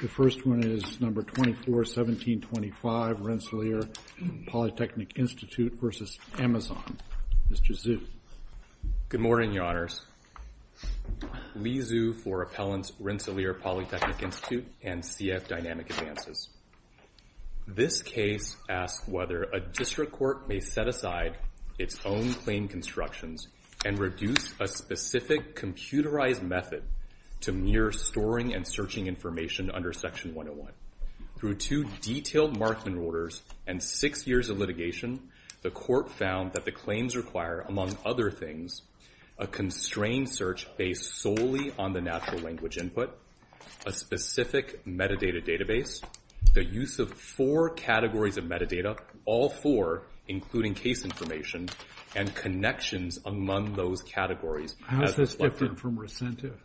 The first one is number 241725, Rensselaer Polytechnic Institute versus Amazon. Mr. Zhu. Good morning, Your Honors. Li Zhu for Appellants Rensselaer Polytechnic Institute and CF Dynamic Advances. This case asks whether a district court may set aside its own claim constructions and reduce a specific computerized method to mere storing and searching information under Section 101. Through two detailed Markman orders and six years of litigation, the court found that the claims require, among other things, a constrained search based solely on the natural language input, a specific metadata database, the use of four categories of metadata, all four, including case information, and connections among those categories. How is this different from recentive?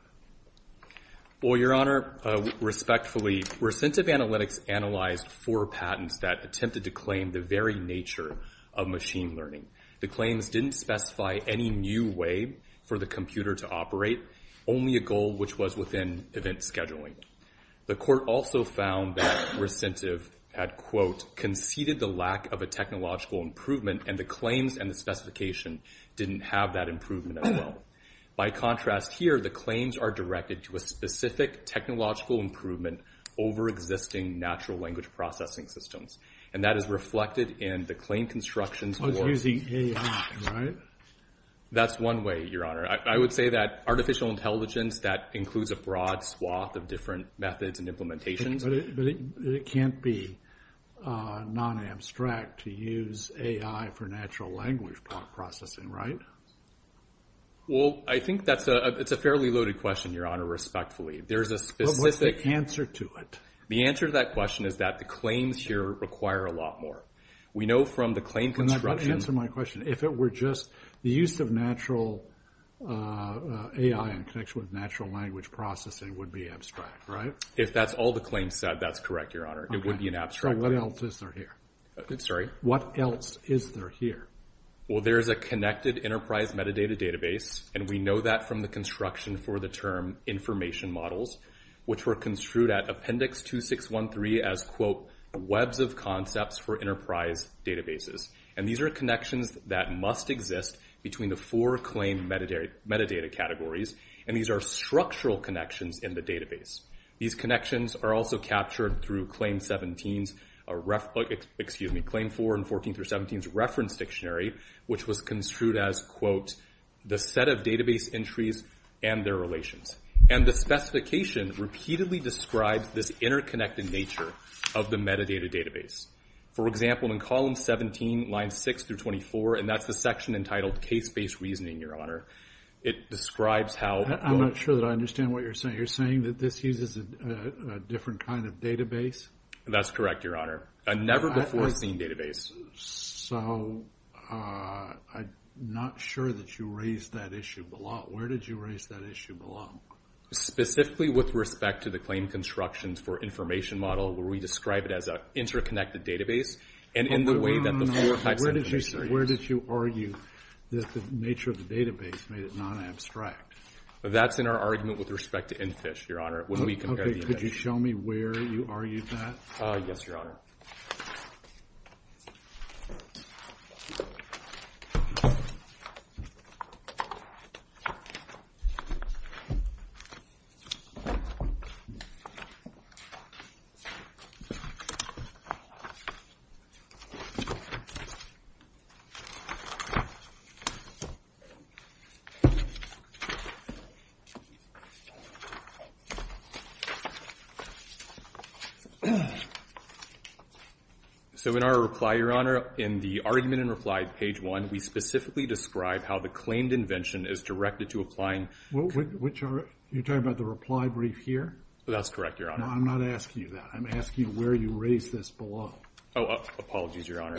Well, Your Honor, respectfully, recentive analytics analyzed four patents that attempted to claim the very nature of machine learning. The claims didn't specify any new way for the computer to operate, only a goal which was within event scheduling. The court also found that recentive had, quote, conceded the lack of a technological improvement, and the claims and the specification didn't have that improvement as well. By contrast, here, the claims are directed to a specific technological improvement over existing natural language processing systems. And that is reflected in the claim constructions for. Oh, it's using AI, right? That's one way, Your Honor. I would say that artificial intelligence, that includes a broad swath of different methods and implementations. But it can't be non-abstract to use AI for natural language processing, right? Well, I think that's a fairly loaded question, Your Honor, respectfully. There is a specific answer to it. The answer to that question is that the claims here require a lot more. We know from the claim construction. Answer my question. If it were just the use of natural AI in connection with natural language processing would be abstract, right? If that's all the claims said, that's correct, Your Honor. It would be an abstract. So what else is there here? Sorry? What else is there here? Well, there is a connected enterprise metadata database. And we know that from the construction for the term information models, which were construed at Appendix 2613 as, quote, webs of concepts for enterprise databases. And these are connections that must exist between the four claim metadata categories. And these are structural connections in the database. These connections are also captured through Claim 17's excuse me, Claim 4 and 14 through 17's reference dictionary, which was construed as, quote, the set of database entries and their relations. And the specification repeatedly describes this interconnected nature of the metadata database. For example, in column 17, line 6 through 24, and that's the section entitled case-based reasoning, Your Honor, it describes how. I'm not sure that I understand what you're saying. You're saying that this uses a different kind of database? That's correct, Your Honor. A never-before-seen database. So I'm not sure that you raised that issue below. Where did you raise that issue below? Specifically with respect to the claim constructions for information model, where we describe it as an interconnected database, and in the way that the four types of data series. Where did you argue that the nature of the database made it non-abstract? That's in our argument with respect to NFISH, Your Honor, when we compare the events. Could you show me where you argued that? Yes, Your Honor. So in our reply, Your Honor, in the argument and reply at page one, we specifically describe how the claimed invention is directed to applying. You're talking about the reply brief here? That's correct, Your Honor. No, I'm not asking you that. I'm asking you where you raised this below. Oh, apologies, Your Honor.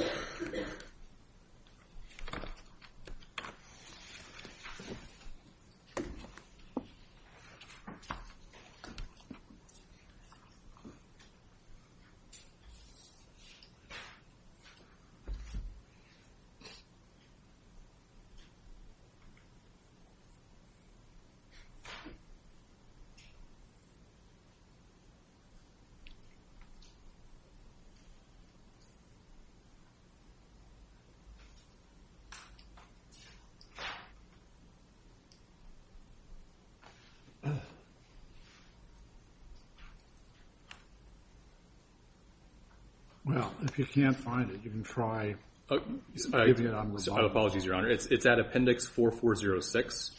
Well, if you can't find it, you can try giving it on the bottom. Apologies, Your Honor. It's at appendix 4406,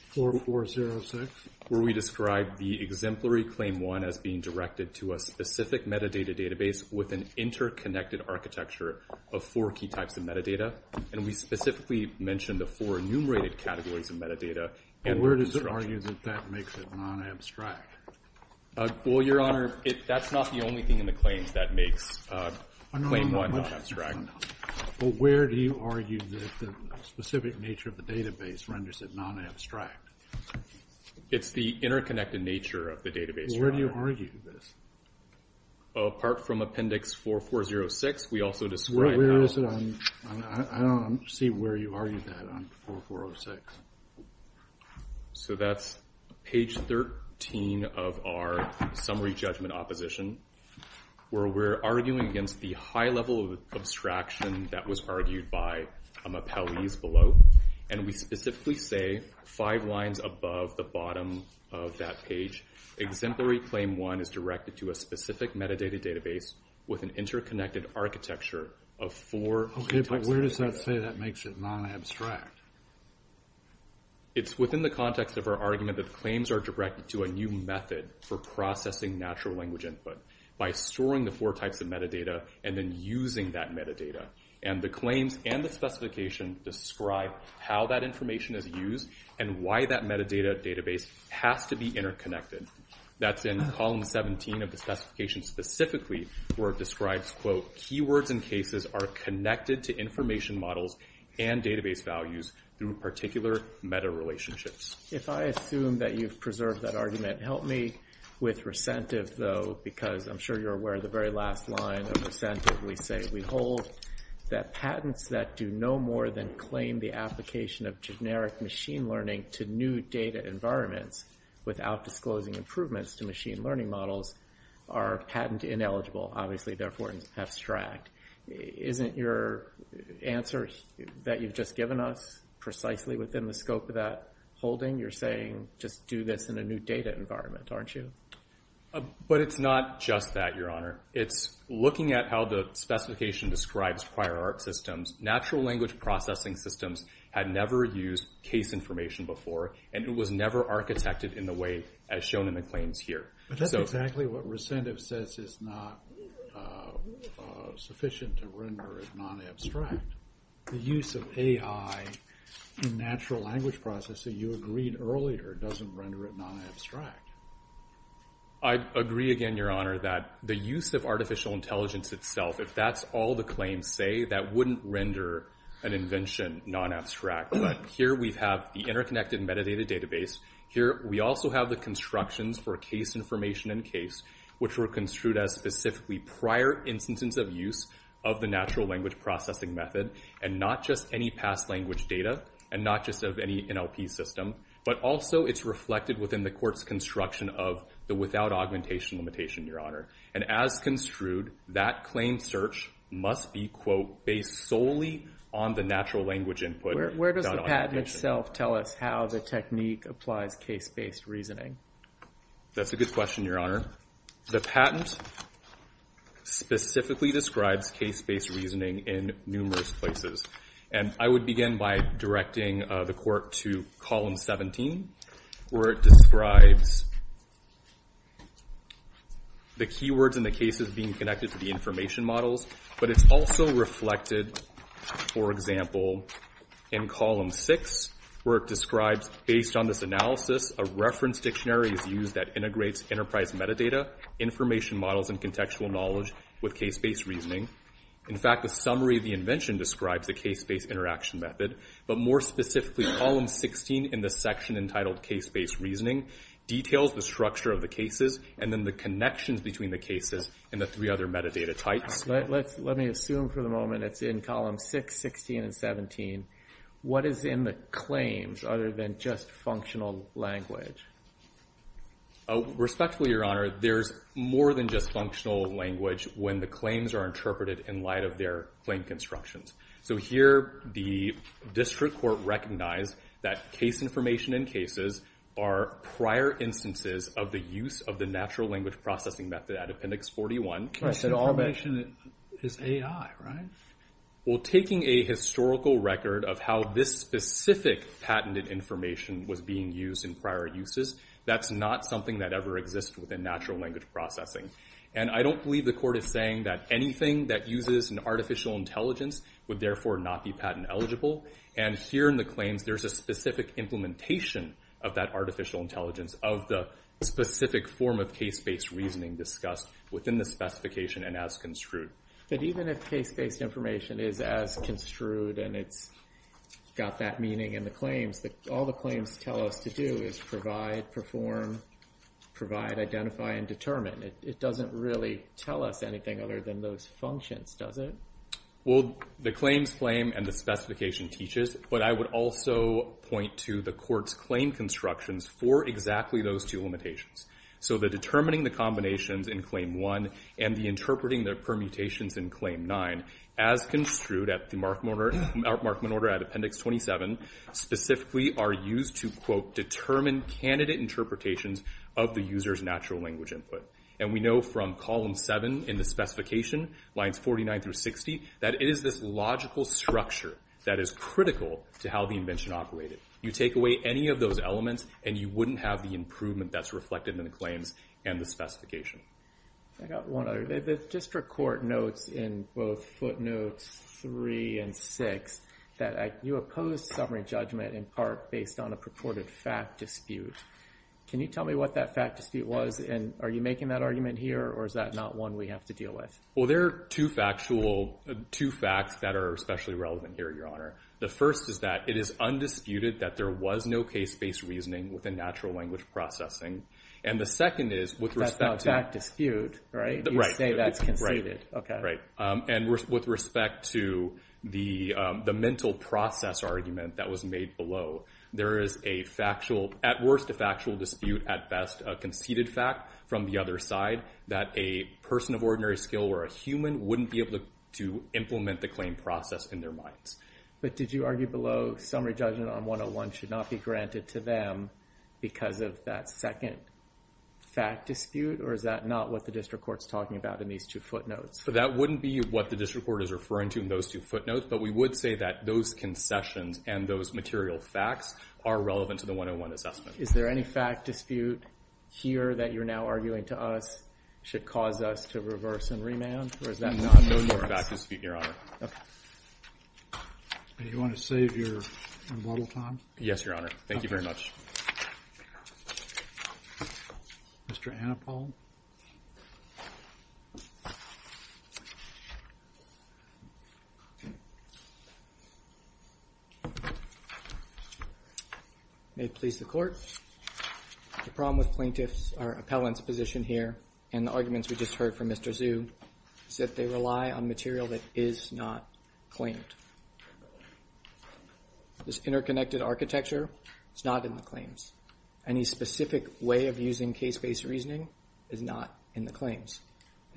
where we describe the exemplary claim one as being directed to a specific metadata database with an interconnected architecture of four key types of metadata. And we specifically mentioned the four enumerated categories of metadata and the constructions. And where does it argue that that makes it non-abstract? Well, Your Honor, it's in the appendix 4406, where that's not the only thing in the claims that makes claim one non-abstract. Well, where do you argue that the specific nature of the database renders it non-abstract? It's the interconnected nature of the database, Your Honor. Well, where do you argue this? Apart from appendix 4406, we also describe how it's Where is it on, I don't see where you argue that on 4406. So that's page 13 of our summary judgment opposition, where we're arguing against the high level of abstraction that was argued by appellees below. And we specifically say, five lines above the bottom of that page, exemplary claim one is directed to a specific metadata database with an interconnected architecture of four key types of metadata. Where does that say that makes it non-abstract? It's within the context of our argument that claims are directed to a new method for processing natural language input by storing the four types of metadata and then using that metadata. And the claims and the specification describe how that information is used and why that metadata database has to be interconnected. That's in column 17 of the specification specifically, where it describes, quote, are connected to information models and database values through particular meta relationships. If I assume that you've preserved that argument, help me with recentive though, because I'm sure you're aware of the very last line of recentive. We say, we hold that patents that do no more than claim the application of generic machine learning to new data environments without disclosing improvements to machine learning models are patent ineligible, obviously therefore abstract. Isn't your answer that you've just given us precisely within the scope of that holding? You're saying, just do this in a new data environment, aren't you? But it's not just that, Your Honor. It's looking at how the specification describes prior art systems. Natural language processing systems had never used case information before, and it was never architected in the way as shown in the claims here. But that's exactly what recentive says is not sufficient to render it non-abstract. The use of AI in natural language processing you agreed earlier doesn't render it non-abstract. I agree again, Your Honor, that the use of artificial intelligence itself, if that's all the claims say, that wouldn't render an invention non-abstract. But here we have the interconnected metadata database. Here we also have the constructions for case information and case, which were construed as specifically prior instances of use of the natural language processing method, and not just any past language data, and not just of any NLP system. But also, it's reflected within the court's construction of the without augmentation limitation, Your Honor. And as construed, that claim search must be, quote, based solely on the natural language input. Where does the patent itself tell us how the technique applies case-based reasoning? That's a good question, Your Honor. The patent specifically describes case-based reasoning in numerous places. And I would begin by directing the court to column 17, where it describes the keywords in the cases being connected to the information models. But it's also reflected, for example, in column six, where it describes, based on this analysis, a reference dictionary is used that integrates enterprise metadata, information models, and contextual knowledge with case-based reasoning. In fact, the summary of the invention describes the case-based interaction method. But more specifically, column 16 in the section entitled case-based reasoning details the structure of the cases, and then the connections between the cases, and the three other metadata types. Let me assume for the moment it's in column 6, 16, and 17. What is in the claims, other than just functional language? Respectfully, Your Honor, there's more than just functional language when the claims are interpreted in light of their claim constructions. So here, the district court recognized that case information in cases are prior instances of the use of the natural language processing method at Appendix 41. Case information is AI, right? Well, taking a historical record of how this specific patented information was being used in prior uses, that's not something that ever exists within natural language processing. And I don't believe the court is saying that anything that uses an artificial intelligence would therefore not be patent eligible. And here in the claims, there's a specific implementation of that artificial intelligence of the specific form of case-based reasoning discussed within the specification and as construed. But even if case-based information is as construed and it's got that meaning in the claims, all the claims tell us to do is provide, perform, provide, identify, and determine. It doesn't really tell us anything other than those functions, does it? Well, the claims claim and the specification teaches. But I would also point to the court's claim constructions for exactly those two limitations. So the determining the combinations in claim 1 and the interpreting the permutations in claim 9 as construed at the Markman order at appendix 27 specifically are used to quote, determine candidate interpretations of the user's natural language input. And we know from column 7 in the specification, lines 49 through 60, that it is this logical structure that is critical to how the invention operated. You take away any of those elements and you wouldn't have the improvement that's reflected in the claims and the specification. I got one other. The district court notes in both footnotes 3 and 6 that you oppose summary judgment in part based on a purported fact dispute. Can you tell me what that fact dispute was and are you making that argument here or is that not one we have to deal with? Well, there are two facts that are especially relevant here, your honor. The first is that it is undisputed that there was no case-based reasoning with a natural language processing. And the second is with respect to- That's not fact dispute, right? You say that's conceded, okay. Right, and with respect to the mental process argument that was made below, there is a factual, at worst a factual dispute, at best a conceded fact from the other side that a person of ordinary skill or a human wouldn't be able to implement the claim process in their minds. But did you argue below summary judgment on 101 should not be granted to them because of that second fact dispute or is that not what the district court's talking about in these two footnotes? So that wouldn't be what the district court is referring to in those two footnotes, but we would say that those concessions and those material facts are relevant to the 101 assessment. Is there any fact dispute here that you're now arguing to us should cause us to reverse and remand or is that not in the works? No more fact dispute, your honor. Okay. Do you want to save your rebuttal time? Yes, your honor. Thank you very much. Mr. Annapol. May it please the court. The problem with plaintiffs, our appellant's position here and the arguments we just heard from Mr. Zhu is that they rely on material that is not claimed. This interconnected architecture is not in the claims. Any specific way of using case-based reasoning is not in the claims.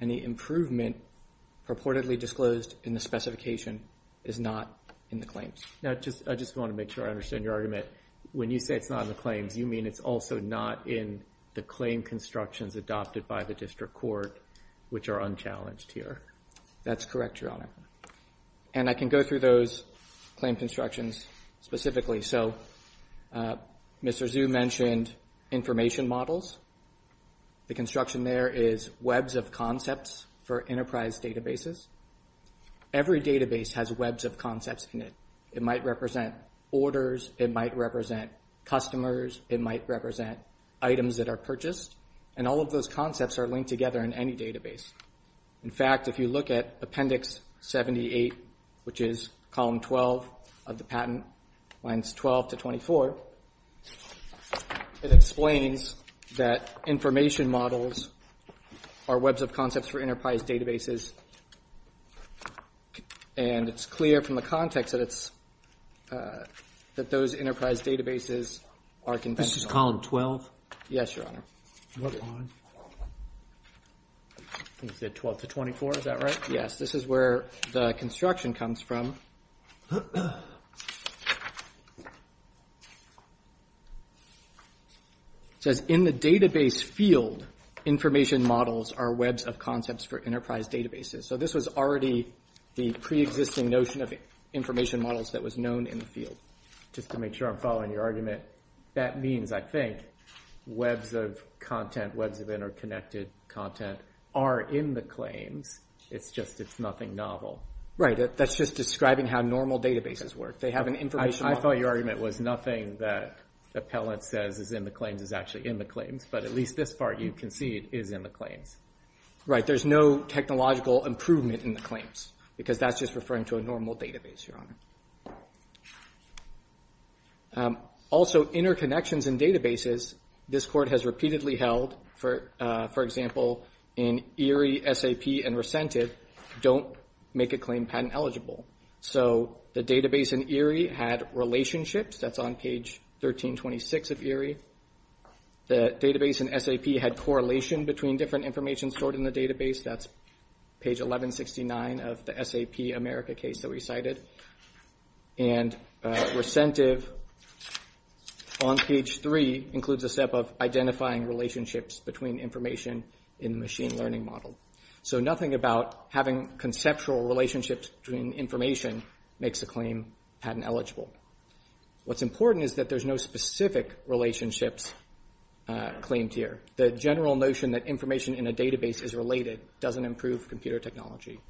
Any improvement purportedly disclosed in the specification is not in the claims. Now, I just want to make sure I understand your argument. When you say it's not in the claims, you mean it's also not in the claim constructions adopted by the district court, which are unchallenged here. That's correct, your honor. And I can go through all of these through those claim constructions specifically. So Mr. Zhu mentioned information models. The construction there is webs of concepts for enterprise databases. Every database has webs of concepts in it. It might represent orders, it might represent customers, it might represent items that are purchased. And all of those concepts are linked together in any database. In fact, if you look at Appendix 78, which is Column 12 of the patent, lines 12 to 24, it explains that information models are webs of concepts for enterprise databases. And it's clear from the context that those enterprise databases are conventional. This is Column 12? Yes, your honor. What line? Is it 12 to 24, is that right? Yes, this is where the construction comes from. It says, in the database field, information models are webs of concepts for enterprise databases. So this was already the preexisting notion of information models that was known in the field. Just to make sure I'm following your argument, that means, I think, webs of content, webs of interconnected content, are in the claims. It's just, it's nothing novel. Right, that's just describing how normal databases work. They have an information model. I thought your argument was nothing that the appellant says is in the claims is actually in the claims, but at least this part you can see is in the claims. Right, there's no technological improvement in the claims, because that's just referring to a normal database, your honor. Also, interconnections in databases, this court has repeatedly held, for example, in ERIE, SAP, and RECENTIV, don't make a claim patent eligible. So the database in ERIE had relationships, that's on page 1326 of ERIE. The database in SAP had correlation between different information stored in the database, that's page 1169 of the SAP America case that we cited. And RECENTIV, on page three, includes a step of identifying relationships between information in the machine learning model. So nothing about having conceptual relationships between information makes a claim patent eligible. What's important is that there's no specific relationships claimed here. The general notion that information in a database is related doesn't improve computer technology.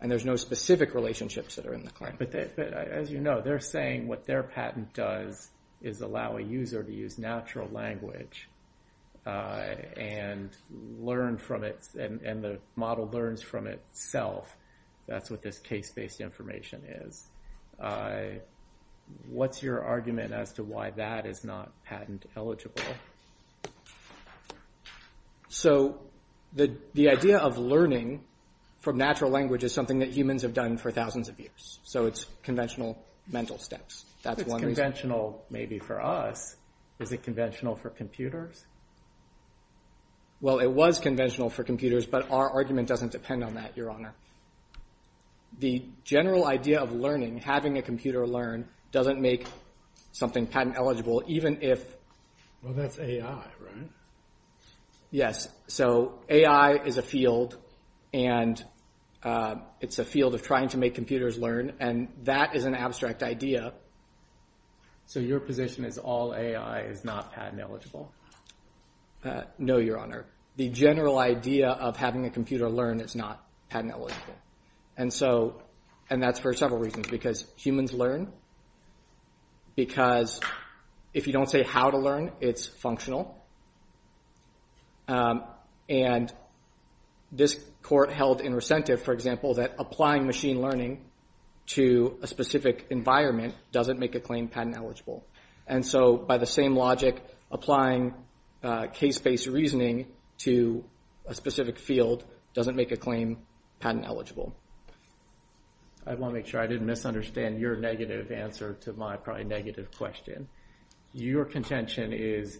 And there's no specific relationships that are in the claim. But as you know, they're saying what their patent does is allow a user to use natural language and learn from it, and the model learns from itself. That's what this case-based information is. What's your argument as to why that is not patent eligible? So the idea of learning from natural language is something that humans have done for thousands of years. So it's conventional mental steps. That's one reason. If it's conventional maybe for us, is it conventional for computers? Well, it was conventional for computers, but our argument doesn't depend on that, Your Honor. The general idea of learning, having a computer learn, doesn't make something patent eligible, even if... Well, that's AI, right? Yes, so AI is a field, and it's a field of trying to make computers learn, and that is an abstract idea. So your position is all AI is not patent eligible? No, Your Honor. The general idea of having a computer learn is not patent eligible. And so, and that's for several reasons, because humans learn, because if you don't say how to learn, it's functional. And this court held in recentive, for example, that applying machine learning to a specific environment doesn't make a claim patent eligible. And so by the same logic, applying case-based reasoning to a specific field doesn't make a claim patent eligible. I wanna make sure I didn't misunderstand your negative answer to my probably negative question. Your contention is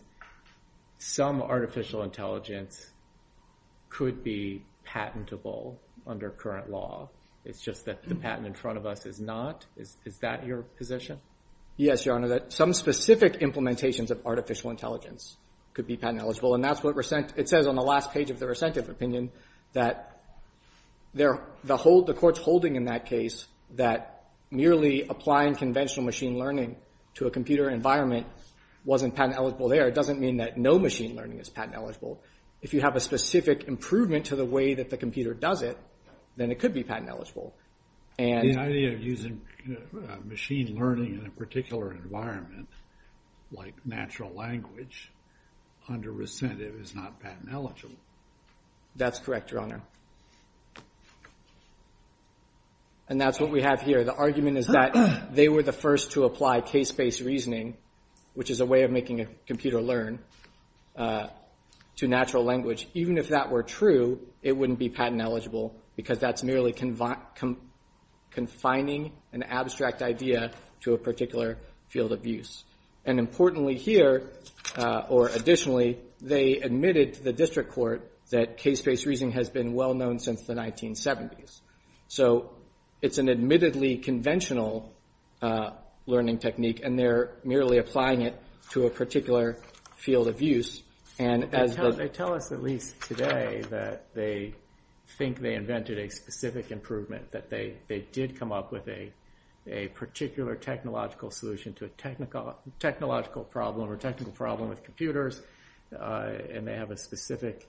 some artificial intelligence could be patentable under current law. It's just that the patent in front of us is not? Is that your position? Yes, Your Honor, that some specific implementations of artificial intelligence could be patent eligible. And that's what it says on the last page of the recentive opinion, that the court's holding in that case that merely applying conventional machine learning to a computer environment wasn't patent eligible there. It doesn't mean that no machine learning is patent eligible. If you have a specific improvement to the way that the computer does it, then it could be patent eligible. And- The idea of using machine learning in a particular environment, like natural language, under recentive is not patent eligible. That's correct, Your Honor. And that's what we have here. The argument is that they were the first to apply case-based reasoning, which is a way of making a computer learn, to natural language. Even if that were true, it wouldn't be patent eligible because that's merely confining an abstract idea to a particular field of use. And importantly here, or additionally, they admitted to the district court that case-based reasoning has been well known since the 1970s. So it's an admittedly conventional learning technique and they're merely applying it to a particular field of use. And as the- They tell us at least today that they think they invented a specific improvement, that they did come up with a particular technological solution to a technological problem or technical problem with computers. And they have a specific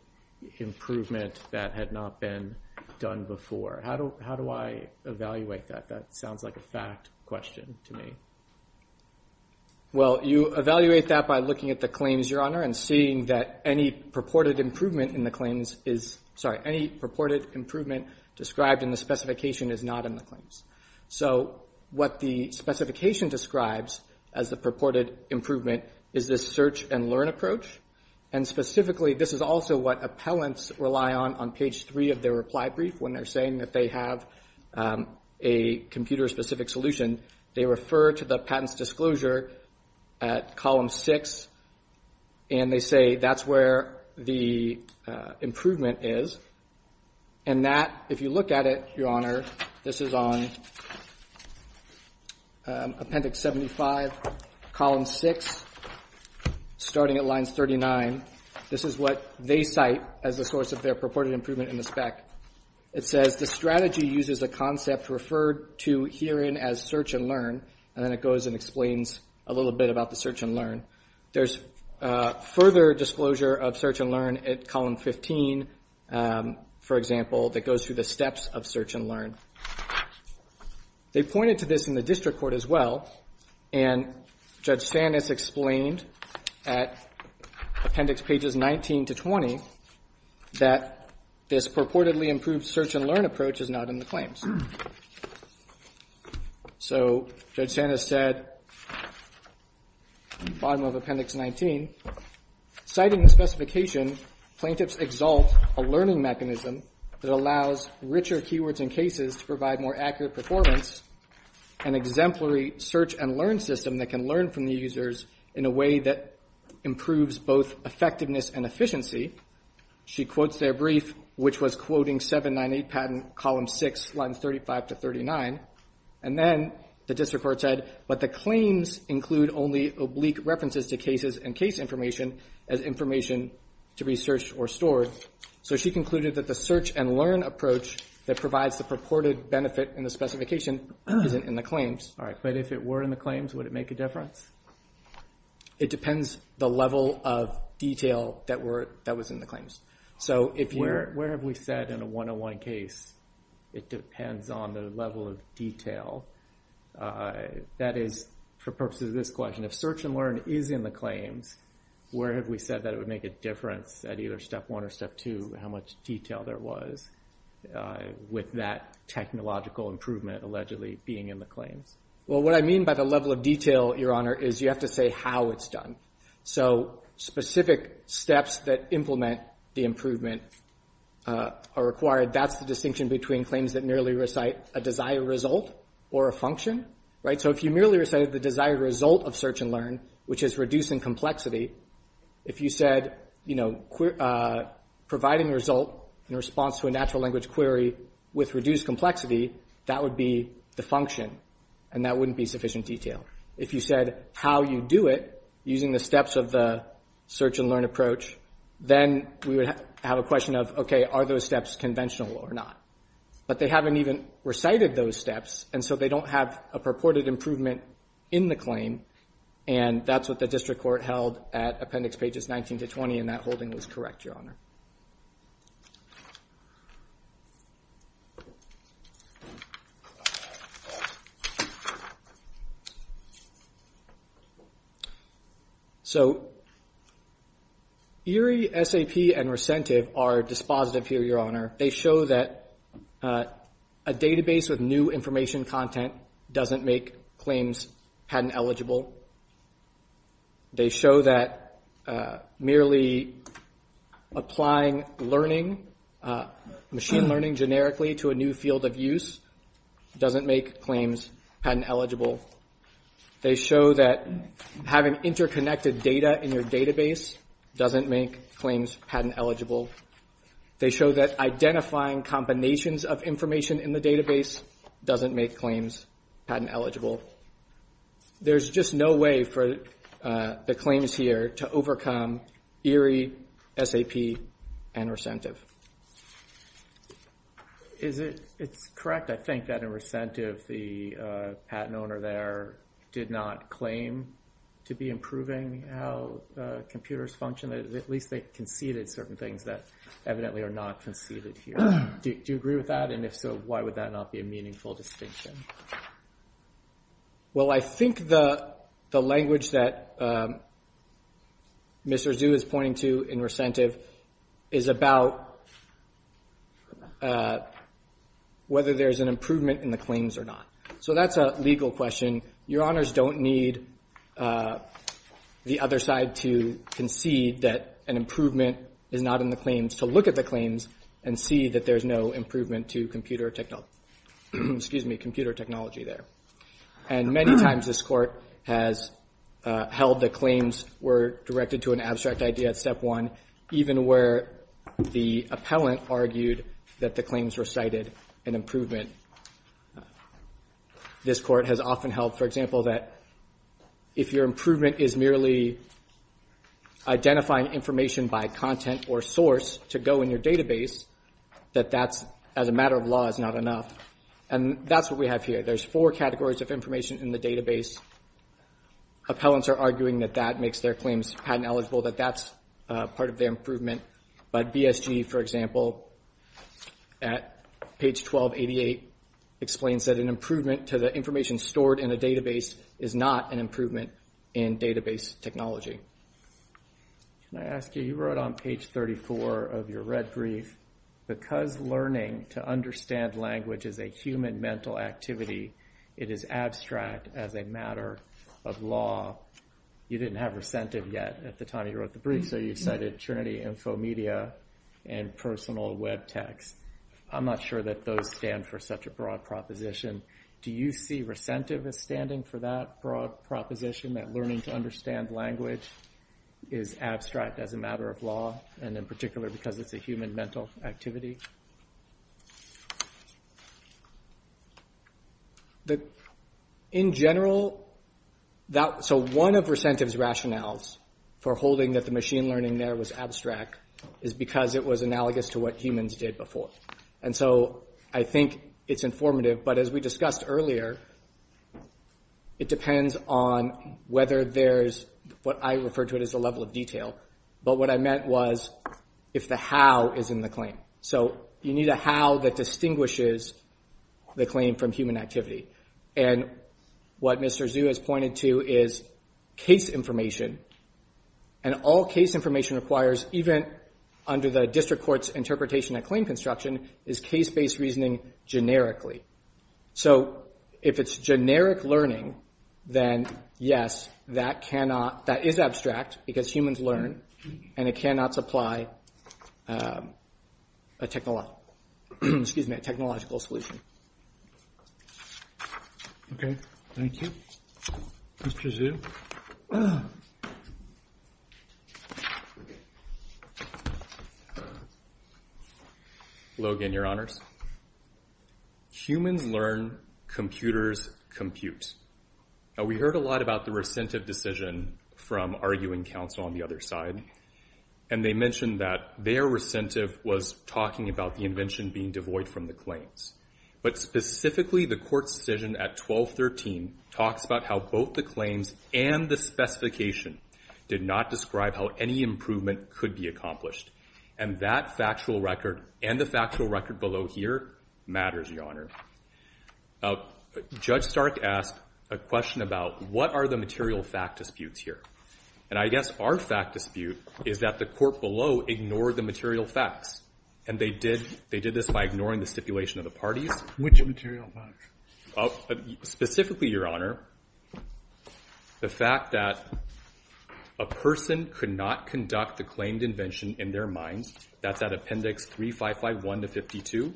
improvement that had not been done before. How do I evaluate that? That sounds like a fact question to me. Well, you evaluate that by looking at the claims, Your Honor, and seeing that any purported improvement in the claims is, sorry, any purported improvement described in the specification is not in the claims. So what the specification describes as the purported improvement is this search and learn approach. And specifically, this is also what appellants rely on on page three of their reply brief when they're saying that they have a computer-specific solution. They refer to the patent's disclosure at column six and they say that's where the improvement is. And that, if you look at it, Your Honor, this is on Appendix 75, column six, starting at lines 39. This is what they cite as the source of their purported improvement in the spec. It says, the strategy uses a concept referred to herein as search and learn, and then it goes and explains a little bit about the search and learn. There's further disclosure of search and learn at column 15, for example, that goes through the steps of search and learn. They pointed to this in the district court as well, and Judge Sanis explained at Appendix pages 19 to 20 that this purportedly improved search and learn approach is not in the claims. So, Judge Sanis said, bottom of Appendix 19, citing the specification, plaintiffs exalt a learning mechanism that allows richer keywords in cases to provide more accurate performance, an exemplary search and learn system that can learn from the users in a way that improves both effectiveness and efficiency. She quotes their brief, which was quoting 798 patent, column six, lines 35 to 39, and then the district court said, but the claims include only oblique references to cases and case information as information to be searched or stored. So she concluded that the search and learn approach that provides the purported benefit in the specification isn't in the claims. All right, but if it were in the claims, would it make a difference? It depends the level of detail that was in the claims. So if you're- Where have we said in a 101 case, it depends on the level of detail. That is for purposes of this question, if search and learn is in the claims, where have we said that it would make a difference at either step one or step two, how much detail there was with that technological improvement allegedly being in the claims? Well, what I mean by the level of detail, Your Honor, is you have to say how it's done. So specific steps that implement the improvement are required. That's the distinction between claims that merely recite a desired result or a function, right? So if you merely recited the desired result of search and learn, which is reducing complexity, if you said, you know, providing a result in response to a natural language query with reduced complexity, that would be the function and that wouldn't be sufficient detail. If you said how you do it using the steps of the search and learn approach, then we would have a question of, okay, are those steps conventional or not? But they haven't even recited those steps and so they don't have a purported improvement in the claim and that's what the district court held at appendix pages 19 to 20 and that holding was correct, Your Honor. So ERIE, SAP, and Recentive are dispositive here, Your Honor. They show that a database with new information content doesn't make claims patent eligible. They show that merely applying learning, machine learning generically to a new field of use doesn't make claims patent eligible. They show that having interconnected data in your database doesn't make claims patent eligible. They show that identifying combinations of information in the database doesn't make claims patent eligible. There's just no way for the claims here to overcome ERIE, SAP, and Recentive. Is it, it's correct, I think, that in Recentive the patent owner there did not claim to be improving how computers function. At least they conceded certain things that evidently are not conceded here. Do you agree with that? And if so, why would that not be a meaningful distinction? Well, I think the language that Mr. Zhu is pointing to in Recentive is about whether there's an improvement in the claims or not. So that's a legal question. Your Honors don't need the other side to concede that an improvement is not in the claims to look at the claims and see that there's no improvement to computer technology there. And many times this court has held the claims were directed to an abstract idea at step one, even where the appellant argued that the claims recited an improvement. This court has often held, for example, that if your improvement is merely identifying information by content or source to go in your database, that that's, as a matter of law, is not enough. And that's what we have here. There's four categories of information in the database. Appellants are arguing that that makes their claims patent eligible, that that's part of their improvement. But BSG, for example, at page 1288, explains that an improvement to the information stored in a database is not an improvement in database technology. Can I ask you, you wrote on page 34 of your red brief, because learning to understand language is a human mental activity, it is abstract as a matter of law. You didn't have recentive yet at the time you wrote the brief, so you cited Trinity Infomedia and personal web text. I'm not sure that those stand for such a broad proposition. Do you see recentive as standing for that broad proposition, that learning to understand language is abstract as a matter of law, and in particular because it's a human mental activity? The, in general, that, so one of recentive's rationales for holding that the machine learning there was abstract is because it was analogous to what humans did before. And so I think it's informative, but as we discussed earlier, it depends on whether there's, what I refer to it as a level of detail, but what I meant was if the how is in the claim. So you need a how that distinguishes the claim from human activity. And what Mr. Zhu has pointed to is case information, and all case information requires, even under the district court's interpretation at claim construction, is case-based reasoning generically. So if it's generic learning, then yes, that cannot, that is abstract because humans learn, and it cannot supply a technolog, excuse me, a technological solution. Okay, thank you. Mr. Zhu. Logan, your honors. Humans learn, computers compute. Now we heard a lot about the recentive decision from arguing counsel on the other side, and they mentioned that their recentive was talking about the invention being devoid from the claims. But specifically the court's decision at 1213 talks about how both the claims and the specification did not describe how any improvement could be accomplished. And that factual record and the factual record below here matters, your honor. Judge Stark asked a question about what are the material fact disputes here? And I guess our fact dispute is that the court below ignored the material facts. And they did this by ignoring the stipulation of the parties. Which material facts? Specifically, your honor, the fact that a person could not conduct the claimed invention in their mind, that's at appendix 3551 to 52,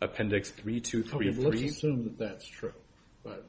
appendix 3233. Okay, let's assume that that's true. But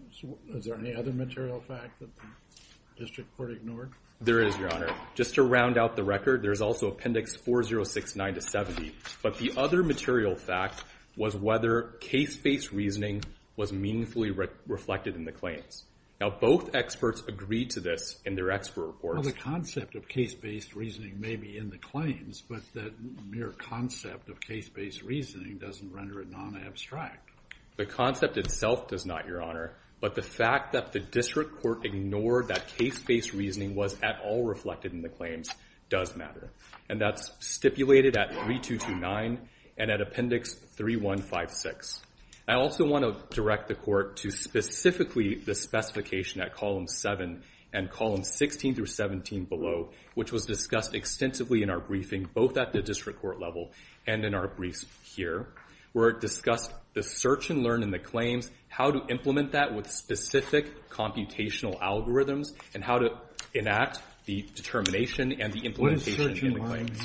is there any other material fact that the district court ignored? There is, your honor. Just to round out the record, there's also appendix 4069 to 70. But the other material fact was whether case-based reasoning was meaningfully reflected in the claims. Now both experts agreed to this in their expert report. The concept of case-based reasoning may be in the claims, but that mere concept of case-based reasoning doesn't render it non-abstract. The concept itself does not, your honor. But the fact that the district court ignored that case-based reasoning was at all reflected in the claims does matter. And that's stipulated at 3229 and at appendix 3156. I also want to direct the court to specifically the specification at column seven and column 16 through 17 below, which was discussed extensively in our briefing, both at the district court level and in our briefs here, where it discussed the search and learn in the claims, how to implement that with specific computational algorithms and how to enact the determination and the implementation in the claims.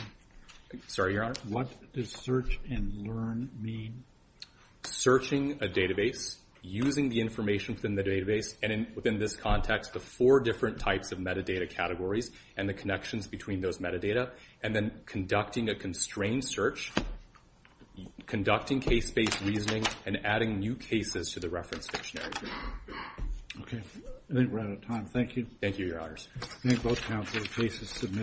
Sorry, your honor. What does search and learn mean? Searching a database, using the information within the database and within this context, the four different types of metadata categories and the connections between those metadata, and then conducting a constrained search, conducting case-based reasoning and adding new cases to the reference dictionary. Okay. I think we're out of time. Thank you. Thank you, your honors. Thank both counsel. Case is submitted.